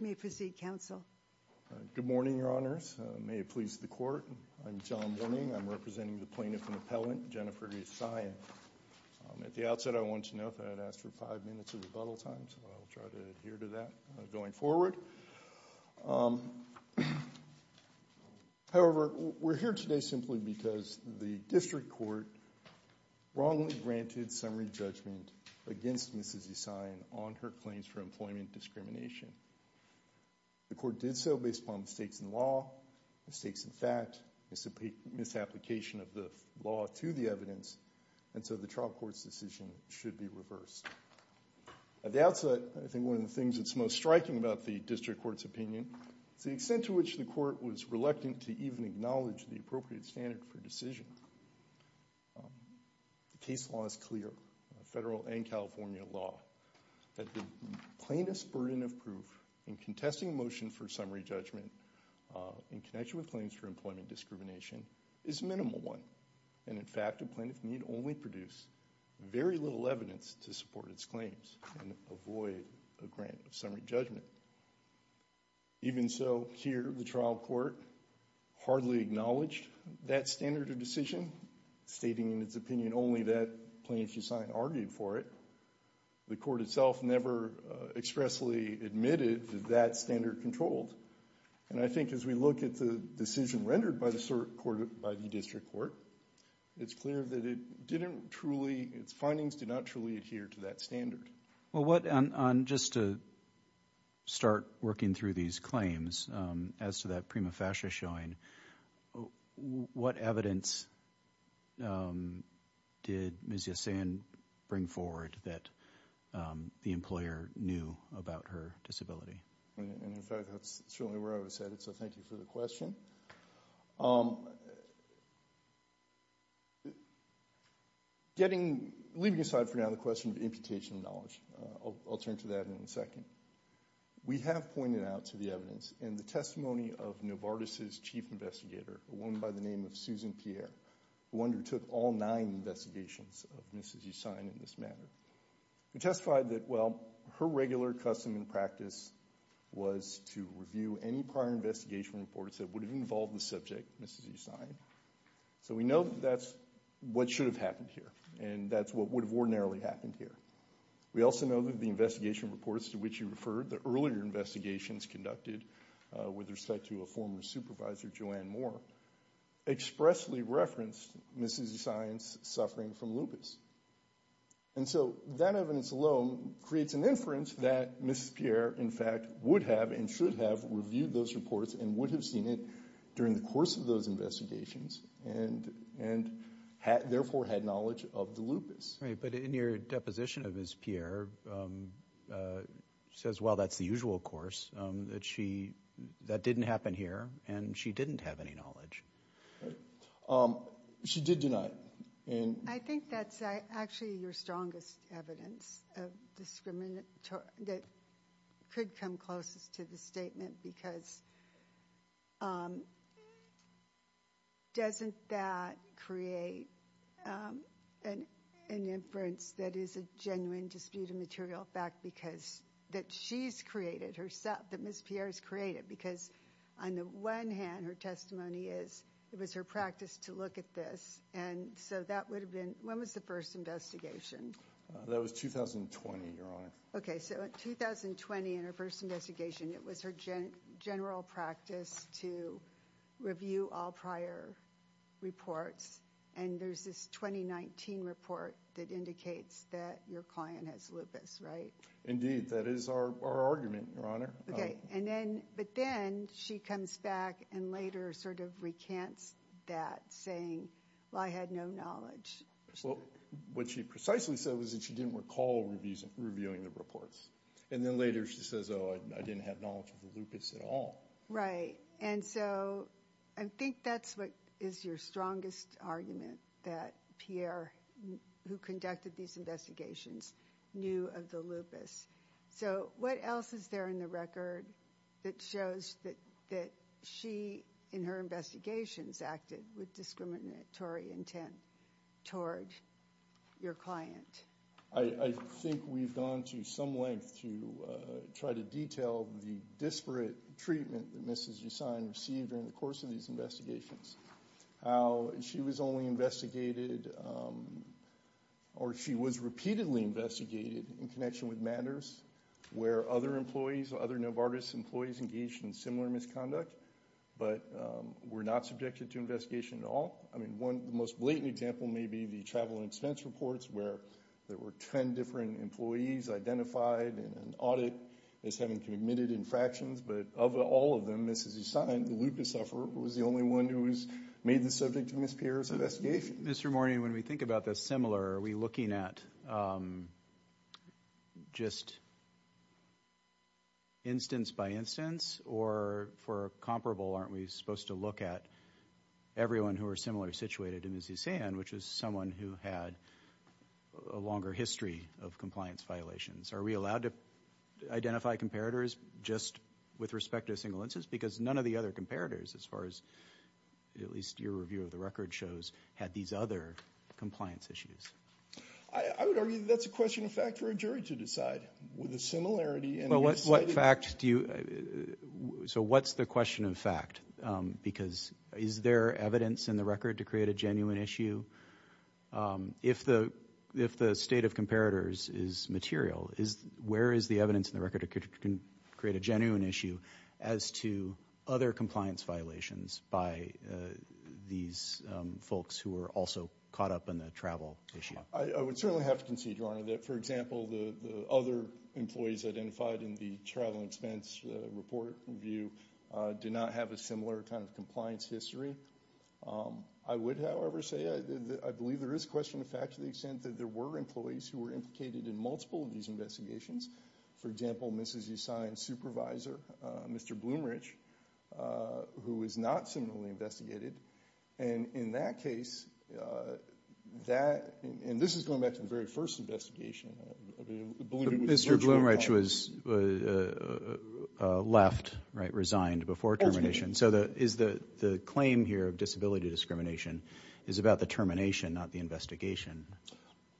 May it please the Court, I'm John Willing, I'm representing the Plaintiff and Appellant, Jennifer Yessian. At the outset, I want to note that I'd asked for five minutes of rebuttal time, so I'll try to adhere to that going forward. However, we're here today simply because the District Court wrongly granted summary judgment against Mrs. Yessian on her claims for employment discrimination. The Court did so based upon mistakes in law, mistakes in fact, misapplication of the law to the evidence, and so the trial court's decision should be reversed. At the outset, I think one of the things that's most striking about the District Court's opinion is the extent to which the Court was reluctant to even acknowledge the appropriate standard for decision. The case law is clear, federal and California law, that the plaintiff's burden of proof in contesting a motion for summary judgment in connection with claims for employment discrimination is a minimal one, and in fact, the plaintiff need only produce very little evidence to support its claims and avoid a grant of summary judgment. Even so, here, the trial court hardly acknowledged that standard of decision, stating in its opinion only that plaintiff's client argued for it. The court itself never expressly admitted that standard controlled, and I think as we look at the decision rendered by the District Court, it's clear that it didn't truly, its findings did not truly adhere to that standard. Well, what, just to start working through these claims, as to that prima facie showing, what evidence did Ms. Yasan bring forward that the employer knew about her disability? And in fact, that's certainly where I was headed, so thank you for the question. Leaving aside for now the question of imputation of knowledge, I'll turn to that in a second. We have pointed out to the evidence in the testimony of Novartis's chief investigator, a woman by the name of Susan Pierre, who undertook all nine investigations of Ms. Yasan in this matter, who testified that, well, her regular custom and practice was to review any prior investigation reports that would have involved the subject, Ms. Yasan. So we know that that's what should have happened here, and that's what would have ordinarily happened here. We also know that the investigation reports to which you referred, the earlier investigations conducted with respect to a former supervisor, Joanne Moore, expressly referenced Ms. Yasan's suffering from lupus. And so that evidence alone creates an inference that Ms. Pierre, in fact, would have and should have reviewed those reports and would have seen it during the course of those investigations and therefore had knowledge of the lupus. Right, but in your deposition of Ms. Pierre, it says, well, that's the usual course, that didn't happen here, and she didn't have any knowledge. She did deny it. I think that's actually your strongest evidence that could come closest to the statement, because doesn't that create an inference that is a genuine dispute of material fact, because that she's created, that Ms. Pierre's created, because on the one hand, her testimony is that it was her practice to look at this, and so that would have been, when was the first investigation? That was 2020, Your Honor. Okay, so in 2020, in her first investigation, it was her general practice to review all prior reports, and there's this 2019 report that indicates that your client has lupus, right? Indeed, that is our argument, Your Honor. Okay, but then she comes back and later sort of recants that, saying, well, I had no knowledge. Well, what she precisely said was that she didn't recall reviewing the reports, and then later she says, oh, I didn't have knowledge of the lupus at all. Right, and so I think that's what is your strongest argument, that Pierre, who conducted these investigations, knew of the lupus. So what else is there in the record that shows that she, in her investigations, acted with discriminatory intent toward your client? I think we've gone to some length to try to detail the disparate treatment that Mrs. Gessine received in the course of these investigations, how she was only investigated, or she was repeatedly investigated in connection with matters where other employees, other Novartis employees engaged in similar misconduct, but were not subjected to investigation at all. I mean, one, the most blatant example may be the travel and expense reports where there were 10 different employees identified in an audit as having committed infractions, but of all of them, Mrs. Gessine, the lupus sufferer, was the only one who was made the subject of Ms. Pierre's investigation. Mr. Mourning, when we think about the similar, are we looking at just instance by instance, or for a comparable, aren't we supposed to look at everyone who are similarly situated in Mrs. Gessine, which is someone who had a longer history of compliance violations? Are we allowed to identify comparators just with respect to a single instance? Because none of the other comparators, as far as at least your review of the record shows, had these other compliance issues. I would argue that that's a question of fact for a jury to decide, with the similarity and the... Well, what fact do you... So what's the question of fact? Because is there evidence in the record to create a genuine issue? If the state of comparators is material, where is the evidence in the record to create a genuine issue as to other compliance violations by these folks who are also caught up in the travel issue? I would certainly have to concede, Your Honor, that, for example, the other employees identified in the travel expense report review do not have a similar kind of compliance history. I would, however, say that I believe there is question of fact to the extent that there were employees who were implicated in multiple of these investigations. For example, Mrs. Usain's supervisor, Mr. Blumrich, who was not similarly investigated. And in that case, that... And this is going back to the very first investigation. Mr. Blumrich was left, right, resigned before termination. So the claim here of disability discrimination is about the termination, not the investigation.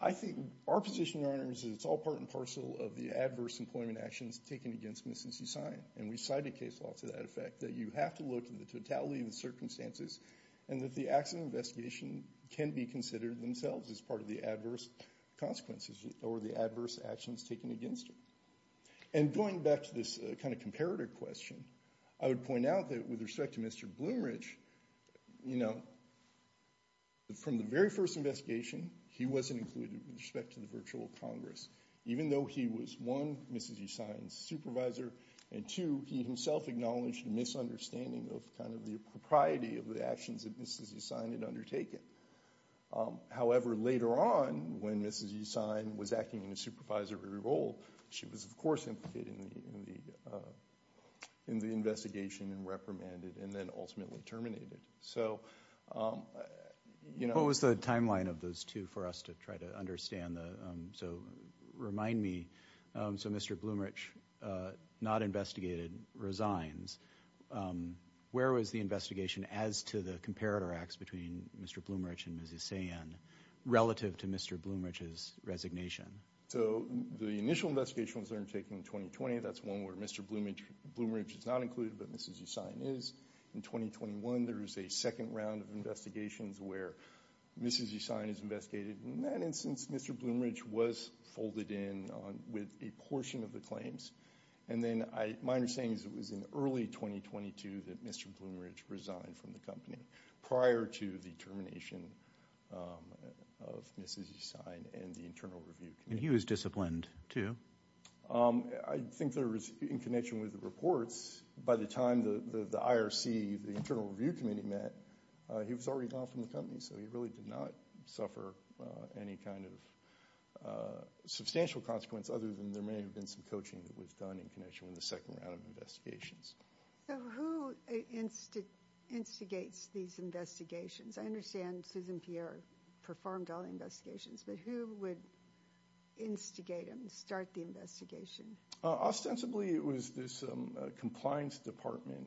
I think our position, Your Honor, is that it's all part and parcel of the adverse employment actions taken against Mrs. Usain. And we cite a case law to that effect, that you have to look at the totality of the circumstances and that the accident investigation can be considered themselves as part of the adverse consequences or the adverse actions taken against her. And going back to this kind of comparator question, I would point out that with respect to Mr. Blumrich, you know, from the very first investigation, he wasn't included with respect to the virtual Congress. Even though he was, one, Mrs. Usain's supervisor, and two, he himself acknowledged a misunderstanding of kind of the propriety of the actions that Mrs. Usain had undertaken. However, later on, when Mrs. Usain was acting in a supervisory role, she was of course implicated in the investigation and reprimanded and then ultimately terminated. So, you know- What was the timeline of those two for us to try to understand? So remind me, so Mr. Blumrich, not investigated, resigns. Where was the investigation as to the comparator acts between Mr. Blumrich and Mrs. Usain relative to Mr. Blumrich's resignation? So the initial investigation was undertaken in 2020. That's one where Mr. Blumrich is not included, but Mrs. Usain is. In 2021, there is a second round of investigations where Mrs. Usain is investigated. In that instance, Mr. Blumrich was folded in with a portion of the claims. And then my understanding is it was in early 2022 that Mr. Blumrich resigned from the company prior to the termination of Mrs. Usain and the Internal Review Committee. And he was disciplined too? I think there was, in connection with the reports, by the time the IRC, the Internal Review Committee met, he was already gone from the company. So he really did not suffer any kind of substantial consequence other than there may have been some coaching that was done in connection with the second round of investigations. So who instigates these investigations? I understand Susan Pierre performed all the investigations, but who would instigate them, start the investigation? Ostensibly, it was this compliance department.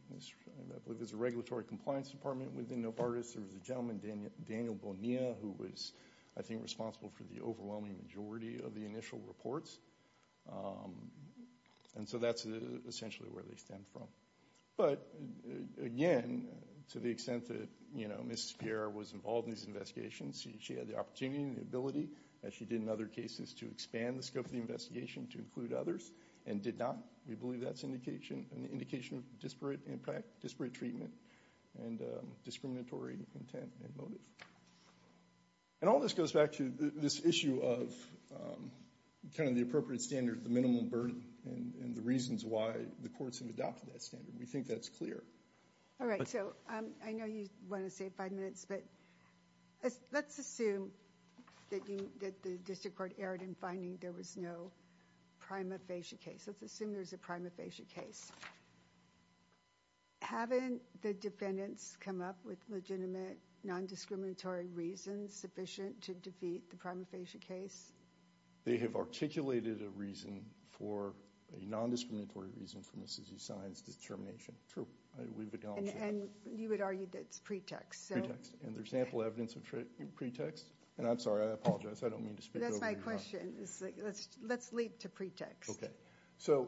There's a regulatory compliance department within Nopartis. There was a gentleman, Daniel Bonilla, who was, I think, responsible for the overwhelming majority of the initial reports. And so that's essentially where they stem from. But again, to the extent that Mrs. Pierre was involved in these investigations, she had the opportunity and the ability, as she did in other cases, to expand the scope of the investigation to include others and did not. We believe that's an indication of disparate impact, disparate treatment, and discriminatory intent and motive. And all this goes back to this issue of the appropriate standard, the minimum burden, and the reasons why the courts have adopted that standard. We think that's clear. All right. So I know you want to save five minutes, but let's assume that the district court erred in finding there was no prima facie case. Let's assume there's a prima facie case. Haven't the defendants come up with legitimate, non-discriminatory reasons sufficient to defeat the prima facie case? They have articulated a reason for a non-discriminatory reason for Mrs. Usain's determination. True. And you would argue that's pretext. And there's sample evidence of pretext. And I'm sorry, I apologize. I don't mean to speak over you. That's my question. Let's leap to pretext. Okay. So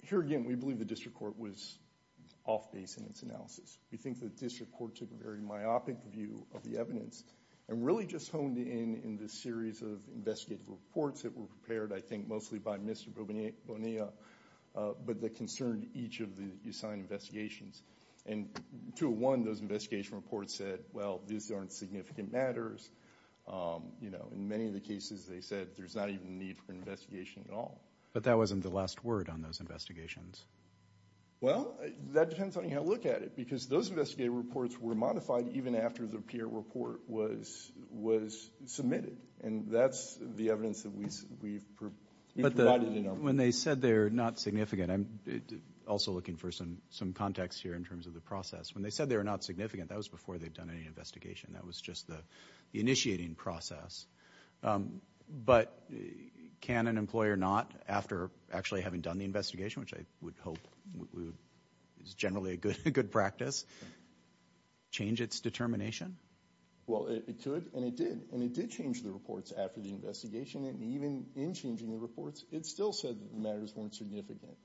here again, we believe the district court was off base in its analysis. We think the district court took a very myopic view of the evidence and really just honed in the series of investigative reports that were prepared, I think, mostly by Mr. Bonilla, but that concerned each of the assigned investigations. And 201, those investigation reports said, well, these aren't significant matters. In many of the cases, they said there's not even a need for an investigation at all. But that wasn't the last word on those investigations. Well, that depends on how you look at it, because those investigative reports were modified even after the peer report was submitted. And that's the evidence that we've provided in our report. But when they said they're not significant, I'm also looking for some context here in terms of the process. When they said they were not significant, that was before they'd done any investigation. That was just the initiating process. But can an employer not, after actually having done the investigation, which I would hope is generally a good practice, change its determination? Well, it could. And it did. And it did change the reports after the investigation. And even in changing the reports, it still said that the matters weren't significant.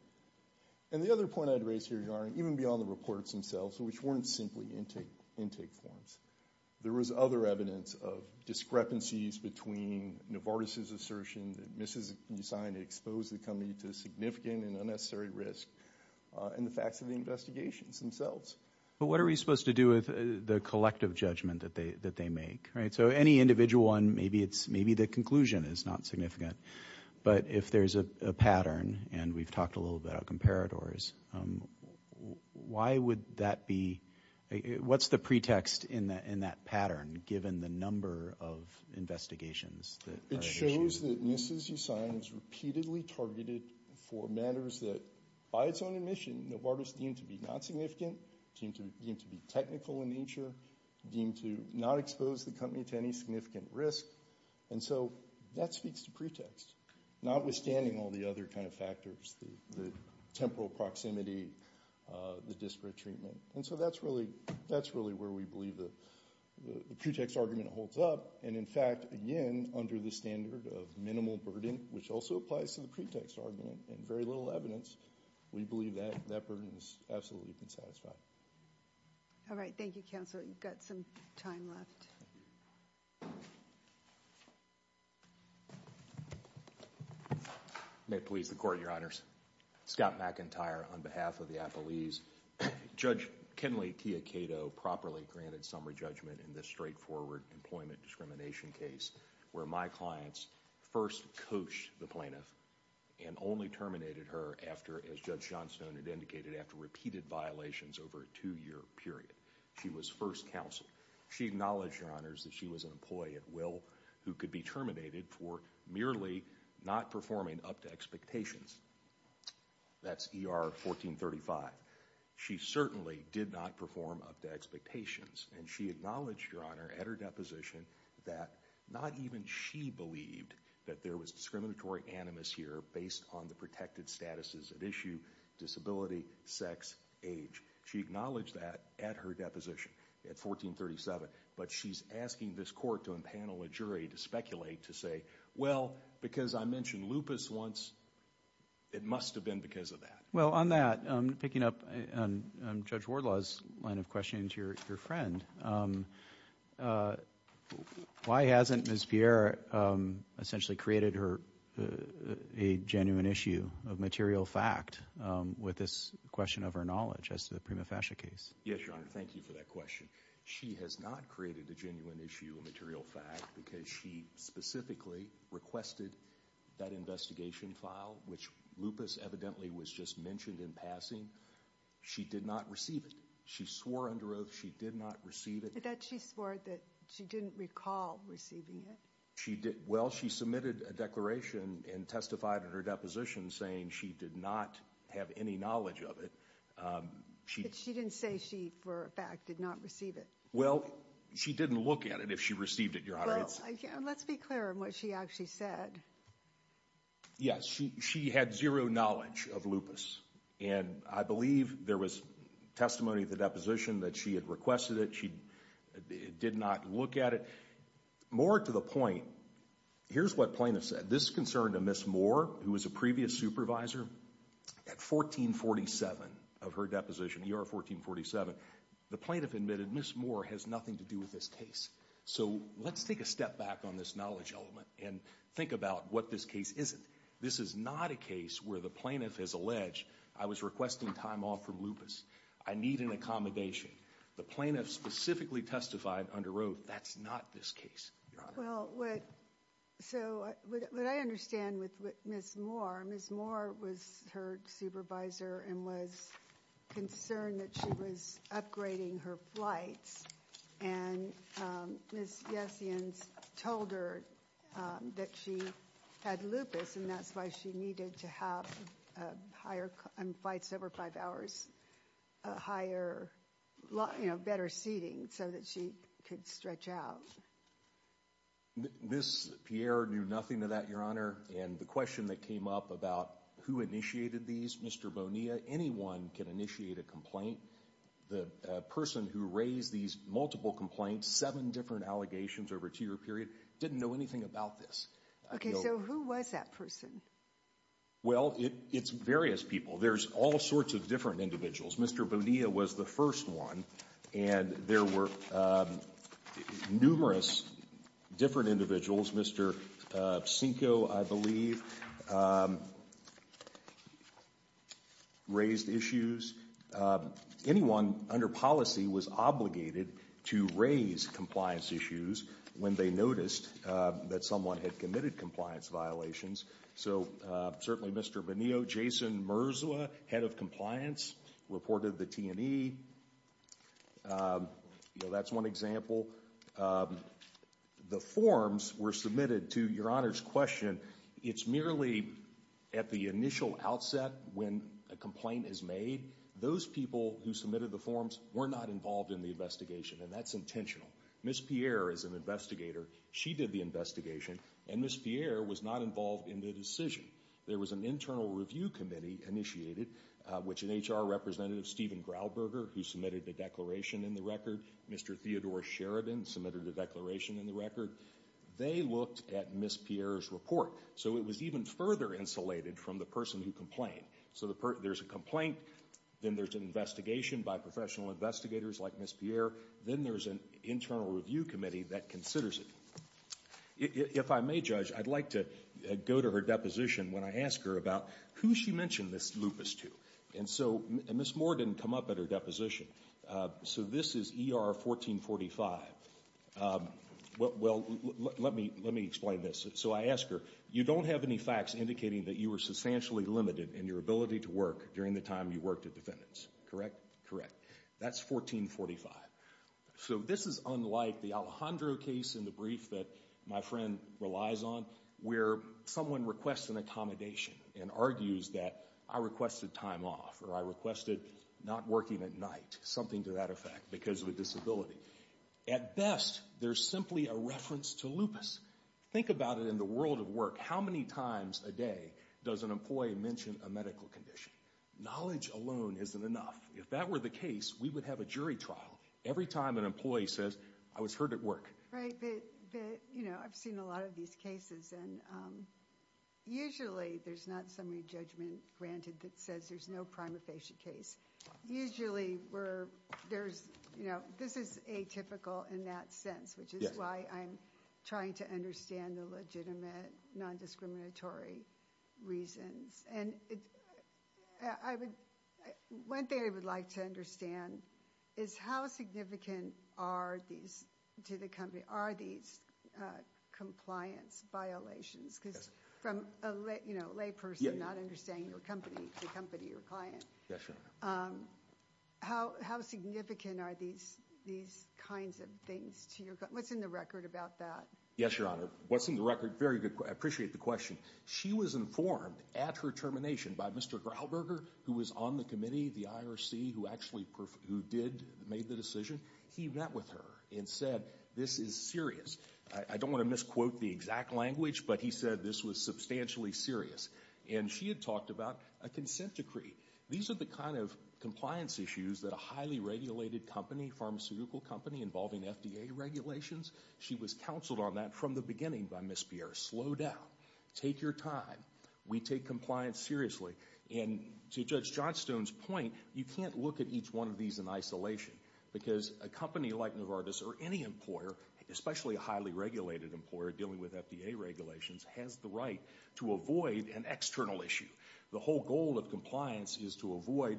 And the other point I'd raise here, even beyond the reports themselves, which weren't simply intake forms, there was other evidence of discrepancies between Novartis' assertion that Mississippi signed exposed the company to significant and unnecessary risk and the facts of the investigations themselves. But what are we supposed to do with the collective judgment that they make, right? So any individual one, maybe the conclusion is not significant. But if there's a pattern, and we've talked a little bit about comparators, what's the pretext in that pattern, given the number of investigations that are issued? It shows that Mississippi signed was repeatedly targeted for matters that, by its own admission, Novartis deemed to be not significant, deemed to be technical in nature, deemed to not expose the company to any significant risk. And so that speaks to pretext, notwithstanding all the other kind of factors, the temporal proximity, the disparate treatment. And so that's really where we believe the pretext argument holds up. And in fact, again, under the standard of minimal burden, which also applies to the pretext argument, and very little evidence, we believe that that burden has absolutely been satisfied. All right. Thank you, Counselor. You've got some time left. May it please the Court, Your Honors. Scott McIntyre, on behalf of the affilees. Judge Kenley Tia Cato properly granted summary judgment in this straightforward employment discrimination case where my clients first coached the plaintiff and only terminated her after, as Judge Johnstone had indicated, after repeated violations over a two-year period. She was first counseled. She acknowledged, Your Honors, that she was an employee at will who could be terminated for merely not performing up to expectations. That's ER 1435. She certainly did not perform up to expectations. And she acknowledged, Your Honor, at her deposition that not even she believed that there was discriminatory animus here based on the protected statuses at issue, disability, sex, age. She acknowledged that at her deposition at 1437. But she's asking this Court to empanel a jury to speculate, to say, well, because I mentioned lupus once, it must have been because of that. Well, on that, picking up on Judge Wardlaw's line of questioning to your friend, why hasn't Ms. Pierre essentially created a genuine issue of material fact with this question of her knowledge as to the prima facie case? Yes, Your Honor. Thank you for that question. She has not created a genuine issue of material fact because she specifically requested that investigation file, which lupus evidently was just mentioned in passing. She did not receive it. She swore under oath she did not receive it. That she swore that she didn't recall receiving it. She did. Well, she submitted a declaration and testified at her deposition saying she did not have any knowledge of it. She didn't say she, for a fact, did not receive it. Well, she didn't look at it if she received it, Your Honor. Let's be clear on what she actually said. Yes, she had zero knowledge of lupus. And I believe there was testimony at the deposition that she had requested it. She did not look at it. More to the point, here's what plaintiff said. This is concern to Ms. Moore, who was a previous supervisor. At 1447 of her deposition, ER 1447, the plaintiff admitted Ms. Moore has nothing to do with this case. So let's take a step back on this knowledge element and think about what this case isn't. This is not a case where the plaintiff has alleged, I was requesting time off from lupus. I need an accommodation. The plaintiff specifically testified under oath. That's not this case, Your Honor. Well, so what I understand with Ms. Moore, Ms. Moore was her supervisor and was concerned that she was upgrading her flights. And Ms. Yessians told her that she had lupus, and that's why she needed to have flights over five hours, a higher, you know, better seating so that she could stretch out. Ms. Pierre knew nothing of that, Your Honor. And the question that came up about who initiated these, Mr. Bonilla, anyone can initiate a the person who raised these multiple complaints, seven different allegations over a two-year period, didn't know anything about this. Okay, so who was that person? Well, it's various people. There's all sorts of different individuals. Mr. Bonilla was the first one, and there were numerous different individuals. Mr. Cinco, I believe, raised issues. Anyone under policy was obligated to raise compliance issues when they noticed that someone had committed compliance violations. So certainly Mr. Bonilla, Jason Merzla, head of compliance, reported the T&E. That's one example. The forms were submitted to Your Honor's question. It's merely at the initial outset when a complaint is made. Those people who submitted the forms were not involved in the investigation, and that's intentional. Ms. Pierre is an investigator. She did the investigation, and Ms. Pierre was not involved in the decision. There was an internal review committee initiated, which an HR representative, Stephen Grauburger, who submitted the declaration in the record. Mr. Theodore Sheridan submitted a declaration in the record. They looked at Ms. Pierre's report, so it was even further insulated from the person who complained. So there's a complaint, then there's an investigation by professional investigators like Ms. Pierre. Then there's an internal review committee that considers it. If I may, Judge, I'd like to go to her deposition when I ask her about who she mentioned this lupus to. And so Ms. Moore didn't come up at her deposition. So this is ER 1445. Well, let me explain this. So I ask her, you don't have any facts indicating that you were substantially limited in your ability to work during the time you worked at defendants, correct? Correct. That's 1445. So this is unlike the Alejandro case in the brief that my friend relies on, where someone requests an accommodation and argues that I requested time off or I requested not working at night, something to that effect, because of a disability. At best, there's simply a reference to lupus. Think about it in the world of work. How many times a day does an employee mention a medical condition? Knowledge alone isn't enough. If that were the case, we would have a jury trial every time an employee says, I was hurt at work. Right, but, you know, I've seen a lot of these cases. And usually there's not summary judgment granted that says there's no prima facie case. Usually we're, there's, you know, this is atypical in that sense, which is why I'm trying to understand the legitimate non-discriminatory reasons. And I would, one thing I would like to understand is how significant are these, to the company, are these compliance violations? Because from a lay, you know, lay person not understanding your company, the company, your client, how, how significant are these, these kinds of things to your company? What's in the record about that? Yes, Your Honor. What's in the record? Very good. I appreciate the question. She was informed at her termination by Mr. Graalberger, who was on the committee, the IRC, who actually, who did, made the decision. He met with her and said, this is serious. I don't want to misquote the exact language, but he said this was substantially serious. And she had talked about a consent decree. These are the kind of compliance issues that a highly regulated company, pharmaceutical company involving FDA regulations, she was counseled on that from the beginning by Ms. Pierre. Slow down. Take your time. We take compliance seriously. And to Judge Johnstone's point, you can't look at each one of these in isolation. Because a company like Novartis or any employer, especially a highly regulated employer dealing with FDA regulations, has the right to avoid an external issue. The whole goal of compliance is to avoid,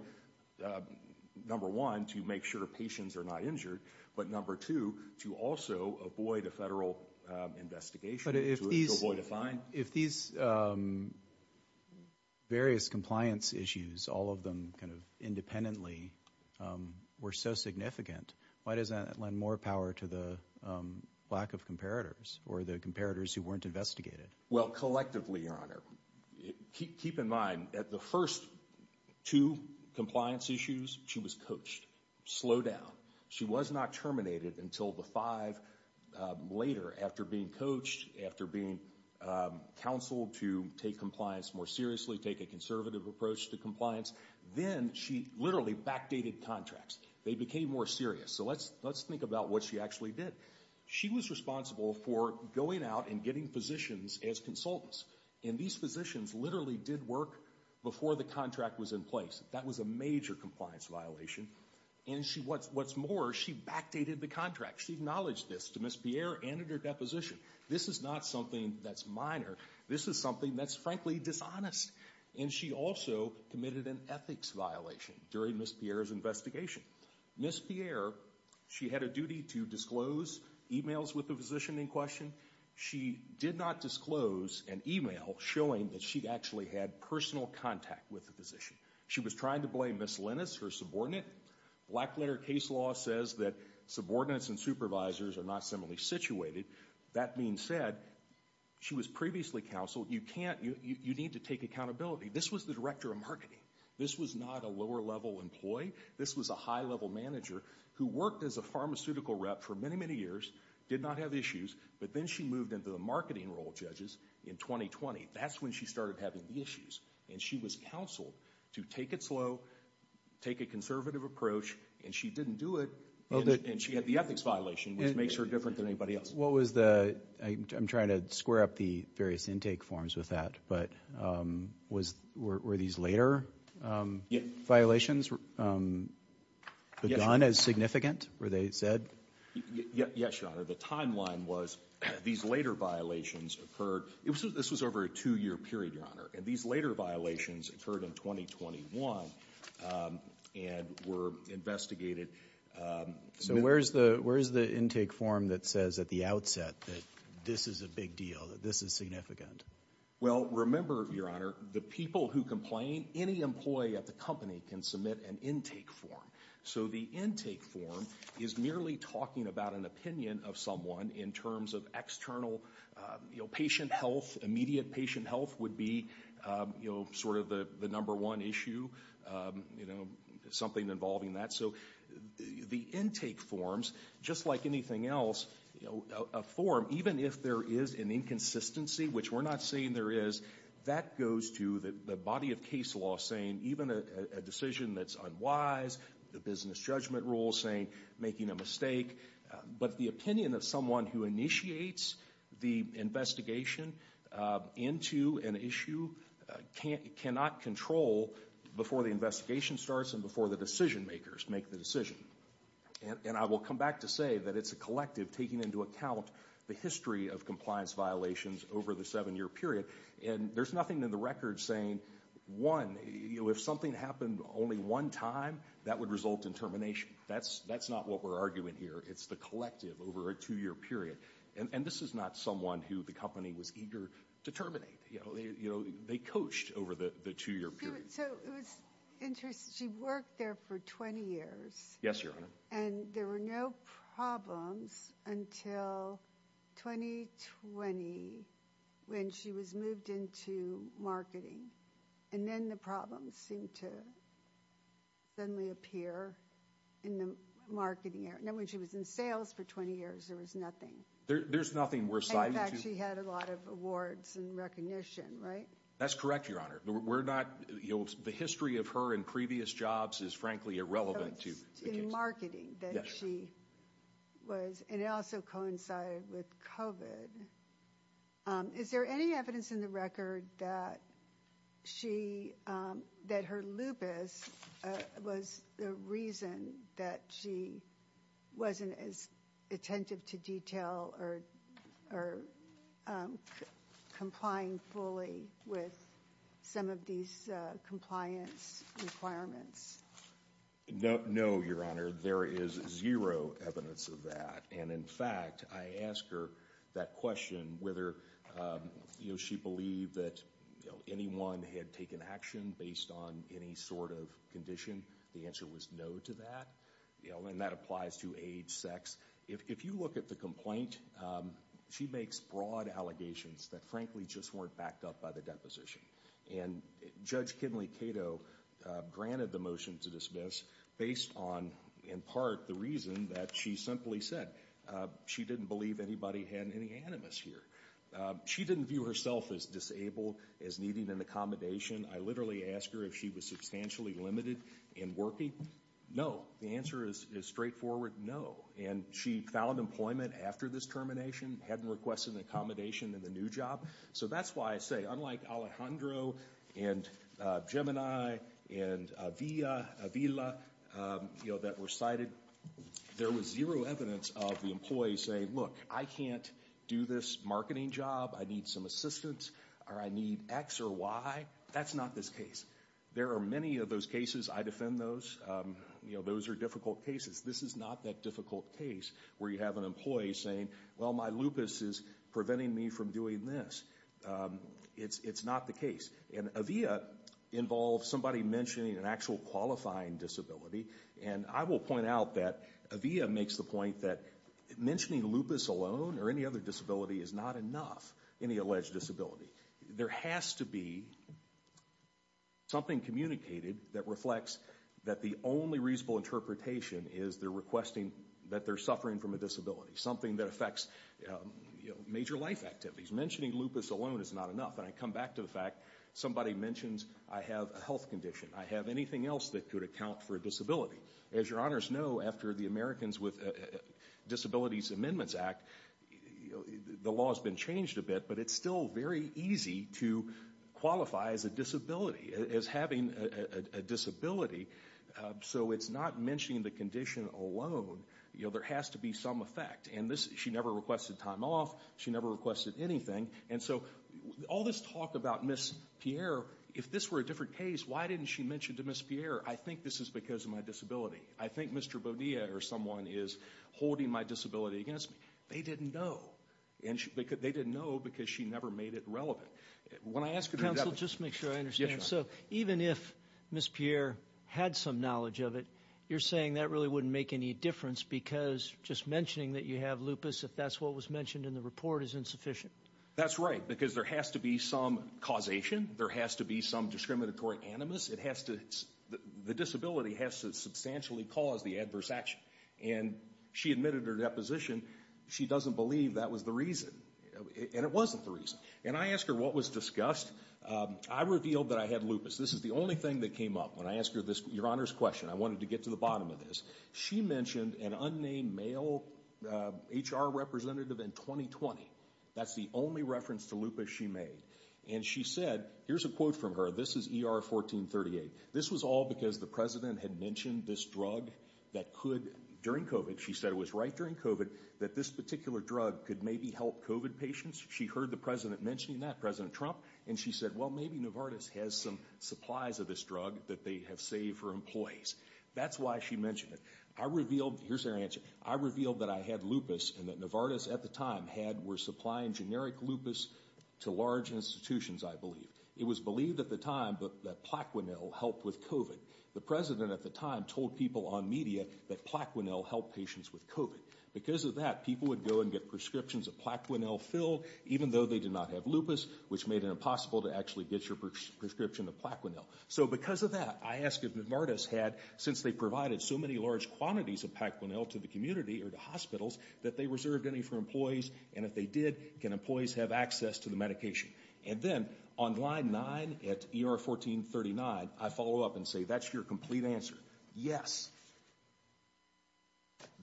number one, to make sure patients are not injured, but number two, to also avoid a federal investigation. But if these various compliance issues, all of them kind of independently, were so significant, why does that lend more power to the lack of comparators or the comparators who weren't investigated? Well, collectively, Your Honor, keep in mind that the first two compliance issues, she was coached. Slow down. She was not terminated until the five later after being coached, after being counseled to take compliance more seriously, take a conservative approach to compliance. Then she literally backdated contracts. They became more serious. So let's think about what she actually did. She was responsible for going out and getting positions as consultants. And these positions literally did work before the contract was in place. That was a major compliance violation. And what's more, she backdated the contract. She acknowledged this to Ms. Pierre and at her deposition. This is not something that's minor. This is something that's frankly dishonest. And she also committed an ethics violation during Ms. Pierre's investigation. Ms. Pierre, she had a duty to disclose emails with the physician in question. She did not disclose an email showing that she actually had personal contact with the She was trying to blame Ms. Lennis, her subordinate. Black letter case law says that subordinates and supervisors are not similarly situated. That being said, she was previously counseled. You can't, you need to take accountability. This was the director of marketing. This was not a lower level employee. This was a high level manager who worked as a pharmaceutical rep for many, many years, did not have issues. But then she moved into the marketing role, judges, in 2020. That's when she started having the issues. And she was counseled to take it slow, take a conservative approach. And she didn't do it. And she had the ethics violation, which makes her different than anybody else. What was the, I'm trying to square up the various intake forms with that. But were these later violations begun as significant, were they said? Yes, Your Honor. The timeline was these later violations occurred. This was over a two year period, Your Honor. And these later violations occurred in 2021 and were investigated. So where's the intake form that says at the outset that this is a big deal, that this is significant? Well, remember, Your Honor, the people who complain, any employee at the company can submit an intake form. So the intake form is merely talking about an opinion of someone in terms of external patient health. Immediate patient health would be sort of the number one issue, something involving that. So the intake forms, just like anything else, a form, even if there is an inconsistency, which we're not saying there is, that goes to the body of case law saying even a decision that's unwise, the business judgment rule saying making a mistake. But the opinion of someone who initiates the investigation into an issue cannot control before the investigation starts and before the decision makers make the decision. And I will come back to say that it's a collective taking into account the history of compliance violations over the seven year period. And there's nothing in the record saying, one, if something happened only one time, that would result in termination. That's not what we're arguing here. It's the collective over a two year period. And this is not someone who the company was eager to terminate. You know, they coached over the two year period. So it was interesting. She worked there for 20 years. Yes, Your Honor. And there were no problems until 2020 when she was moved into marketing. And then the problem seemed to suddenly appear in the marketing. Now, when she was in sales for 20 years, there was nothing. There's nothing worth citing. In fact, she had a lot of awards and recognition, right? That's correct, Your Honor. The history of her in previous jobs is frankly irrelevant to the case. So it's in marketing that she was, and it also coincided with COVID. Is there any evidence in the record that her lupus was the reason that she wasn't as attentive to detail or complying fully with some of these compliance requirements? No, Your Honor. There is zero evidence of that. And in fact, I asked her that question whether she believed that anyone had taken action based on any sort of condition. The answer was no to that. And that applies to age, sex. If you look at the complaint, she makes broad allegations that frankly just weren't backed up by the deposition. And Judge Kenley Cato granted the motion to dismiss based on, in part, the reason that she simply said she didn't believe anybody had any animus here. She didn't view herself as disabled, as needing an accommodation. I literally asked her if she was substantially limited in working. No. The answer is straightforward, no. And she found employment after this termination, hadn't requested an accommodation in the new job. So that's why I say, unlike Alejandro and Gemini and Avila that were cited, there was zero evidence of the employee saying, look, I can't do this marketing job. I need some assistance. Or I need X or Y. That's not this case. There are many of those cases. I defend those. Those are difficult cases. This is not that difficult case where you have an employee saying, well, my lupus is preventing me from doing this. It's not the case. And Avila involves somebody mentioning an actual qualifying disability. And I will point out that Avila makes the point that mentioning lupus alone or any other disability is not enough in the alleged disability. There has to be something communicated that reflects that the only reasonable interpretation is they're requesting that they're suffering from a disability. Something that affects major life activities. Mentioning lupus alone is not enough. And I come back to the fact somebody mentions, I have a health condition. I have anything else that could account for a disability. As your honors know, after the Americans with Disabilities Amendments Act, the law has been changed a bit. But it's still very easy to qualify as a disability, as having a disability. So it's not mentioning the condition alone. There has to be some effect. And she never requested time off. She never requested anything. And so all this talk about Miss Pierre, if this were a different case, why didn't she mention to Miss Pierre, I think this is because of my disability. I think Mr. Bonilla or someone is holding my disability against me. They didn't know. And they didn't know because she never made it relevant. When I ask her that. Counsel, just to make sure I understand. So even if Miss Pierre had some knowledge of it, you're saying that really wouldn't make any difference because just mentioning that you have lupus, if that's what was mentioned in the report, is insufficient. That's right. Because there has to be some causation. There has to be some discriminatory animus. The disability has to substantially cause the adverse action. And she admitted her deposition. She doesn't believe that was the reason. And it wasn't the reason. And I asked her what was discussed. I revealed that I had lupus. This is the only thing that came up when I asked her this, Your Honor's question. I wanted to get to the bottom of this. She mentioned an unnamed male HR representative in 2020. That's the only reference to lupus she made. And she said, here's a quote from her. This is ER 1438. This was all because the president had mentioned this drug that could, during COVID. She said it was right during COVID that this particular drug could maybe help COVID patients. She heard the president mentioning that, President Trump. And she said, well, maybe Novartis has some supplies of this drug that they have saved for employees. That's why she mentioned it. I revealed, here's her answer. I revealed that I had lupus and that Novartis at the time had, were supplying generic lupus to large institutions, I believe. It was believed at the time that Plaquenil helped with COVID. The president at the time told people on media that Plaquenil helped patients with COVID. Because of that, people would go and get prescriptions of Plaquenil filled, even though they did not have lupus, which made it impossible to actually get your prescription of Plaquenil. So because of that, I asked if Novartis had, since they provided so many large quantities of Plaquenil to the community or to hospitals, that they reserved any for employees. And if they did, can employees have access to the medication? And then on line nine at ER 1439, I follow up and say, that's your complete answer. Yes,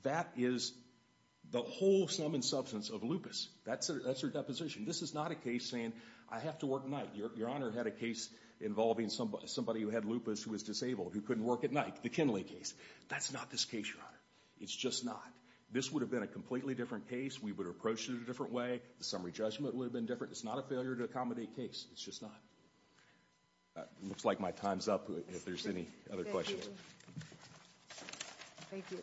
that is the whole sum and substance of lupus. That's her deposition. This is not a case saying, I have to work night. Your Honor had a case involving somebody who had lupus who was disabled, who couldn't work at night, the Kinley case. That's not this case, Your Honor. It's just not. This would have been a completely different case. We would have approached it a different way. The summary judgment would have been different. It's not a failure to accommodate case. It's just not. It looks like my time's up. If there's any other questions. Thank you.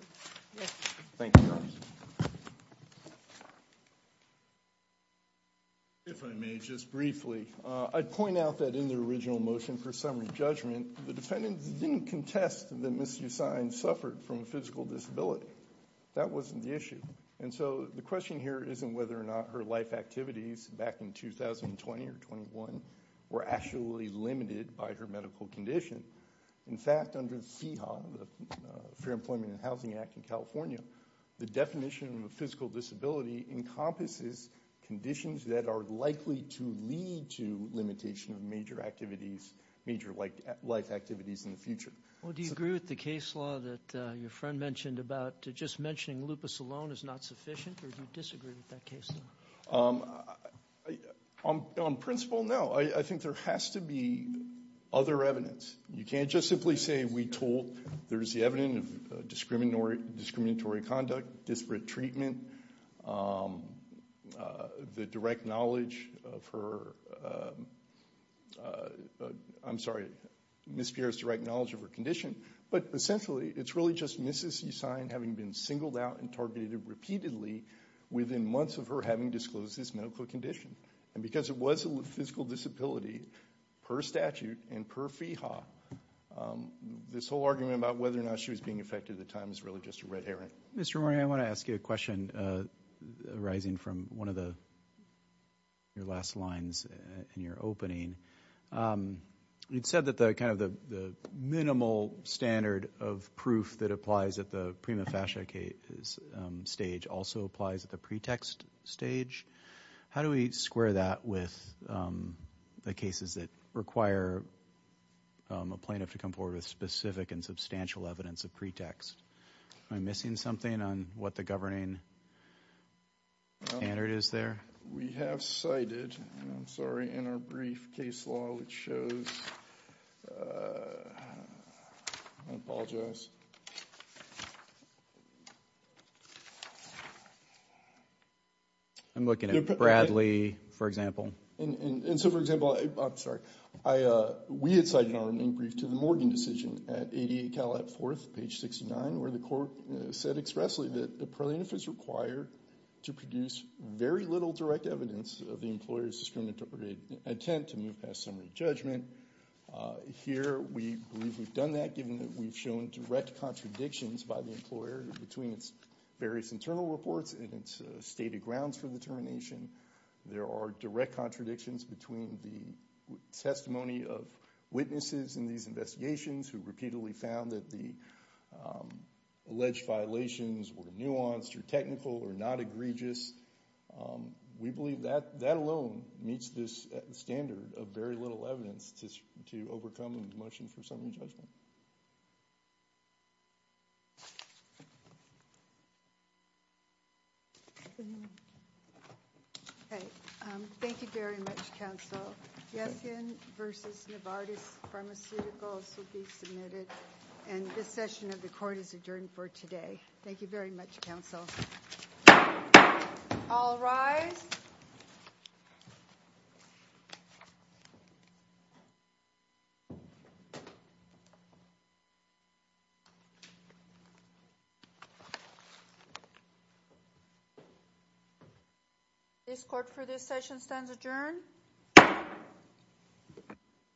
If I may, just briefly, I'd point out that in the original motion for summary judgment, the defendants didn't contest that Ms. Usine suffered from a physical disability. That wasn't the issue. And so the question here isn't whether or not her life activities back in 2020 or 21 were actually limited by her medical condition. In fact, under FEHA, the Fair Employment and Housing Act in California, the definition of a physical disability encompasses conditions that are likely to lead to limitation of major activities, major life activities in the future. Well, do you agree with the case law that your friend mentioned about just mentioning lupus alone is not sufficient, or do you disagree with that case law? On principle, no. I think there has to be other evidence. You can't just simply say we told there's the evidence of discriminatory conduct, disparate treatment, the direct knowledge of her, I'm sorry, Ms. Pierre's direct knowledge of her condition. But essentially, it's really just Ms. Usine having been singled out and targeted repeatedly within months of her having disclosed this medical condition. And because it was a physical disability per statute and per FEHA, this whole argument about whether or not she was being affected at the time is really just a red herring. Mr. Mori, I want to ask you a question arising from one of your last lines in your opening. It said that the kind of the minimal standard of proof that applies at the prima facie stage also applies at the pretext stage. How do we square that with the cases that require a plaintiff to come forward with specific and substantial evidence of pretext? Am I missing something on what the governing standard is there? We have cited, I'm sorry, in our brief case law, which shows, I apologize. I'm looking at Bradley, for example. And so, for example, I'm sorry, we had cited in our opening brief to the Morgan decision at 88 Calat 4th, page 69, where the court said expressly that the plaintiff is required to produce very little direct evidence of the employer's discriminatory attempt to move past summary judgment. Here, we believe we've done that given that we've shown direct contradictions by the employer between its various internal reports and its stated grounds for determination. There are direct contradictions between the testimony of witnesses in these investigations who repeatedly found that the alleged violations were nuanced or technical or not egregious. We believe that that alone meets this standard of very little evidence to overcome a motion for summary judgment. Okay, thank you very much, counsel. Yes, in versus Novartis Pharmaceuticals will be submitted. And this session of the court is adjourned for today. Thank you very much, counsel. All rise. This court for this session stands adjourned. Thank you.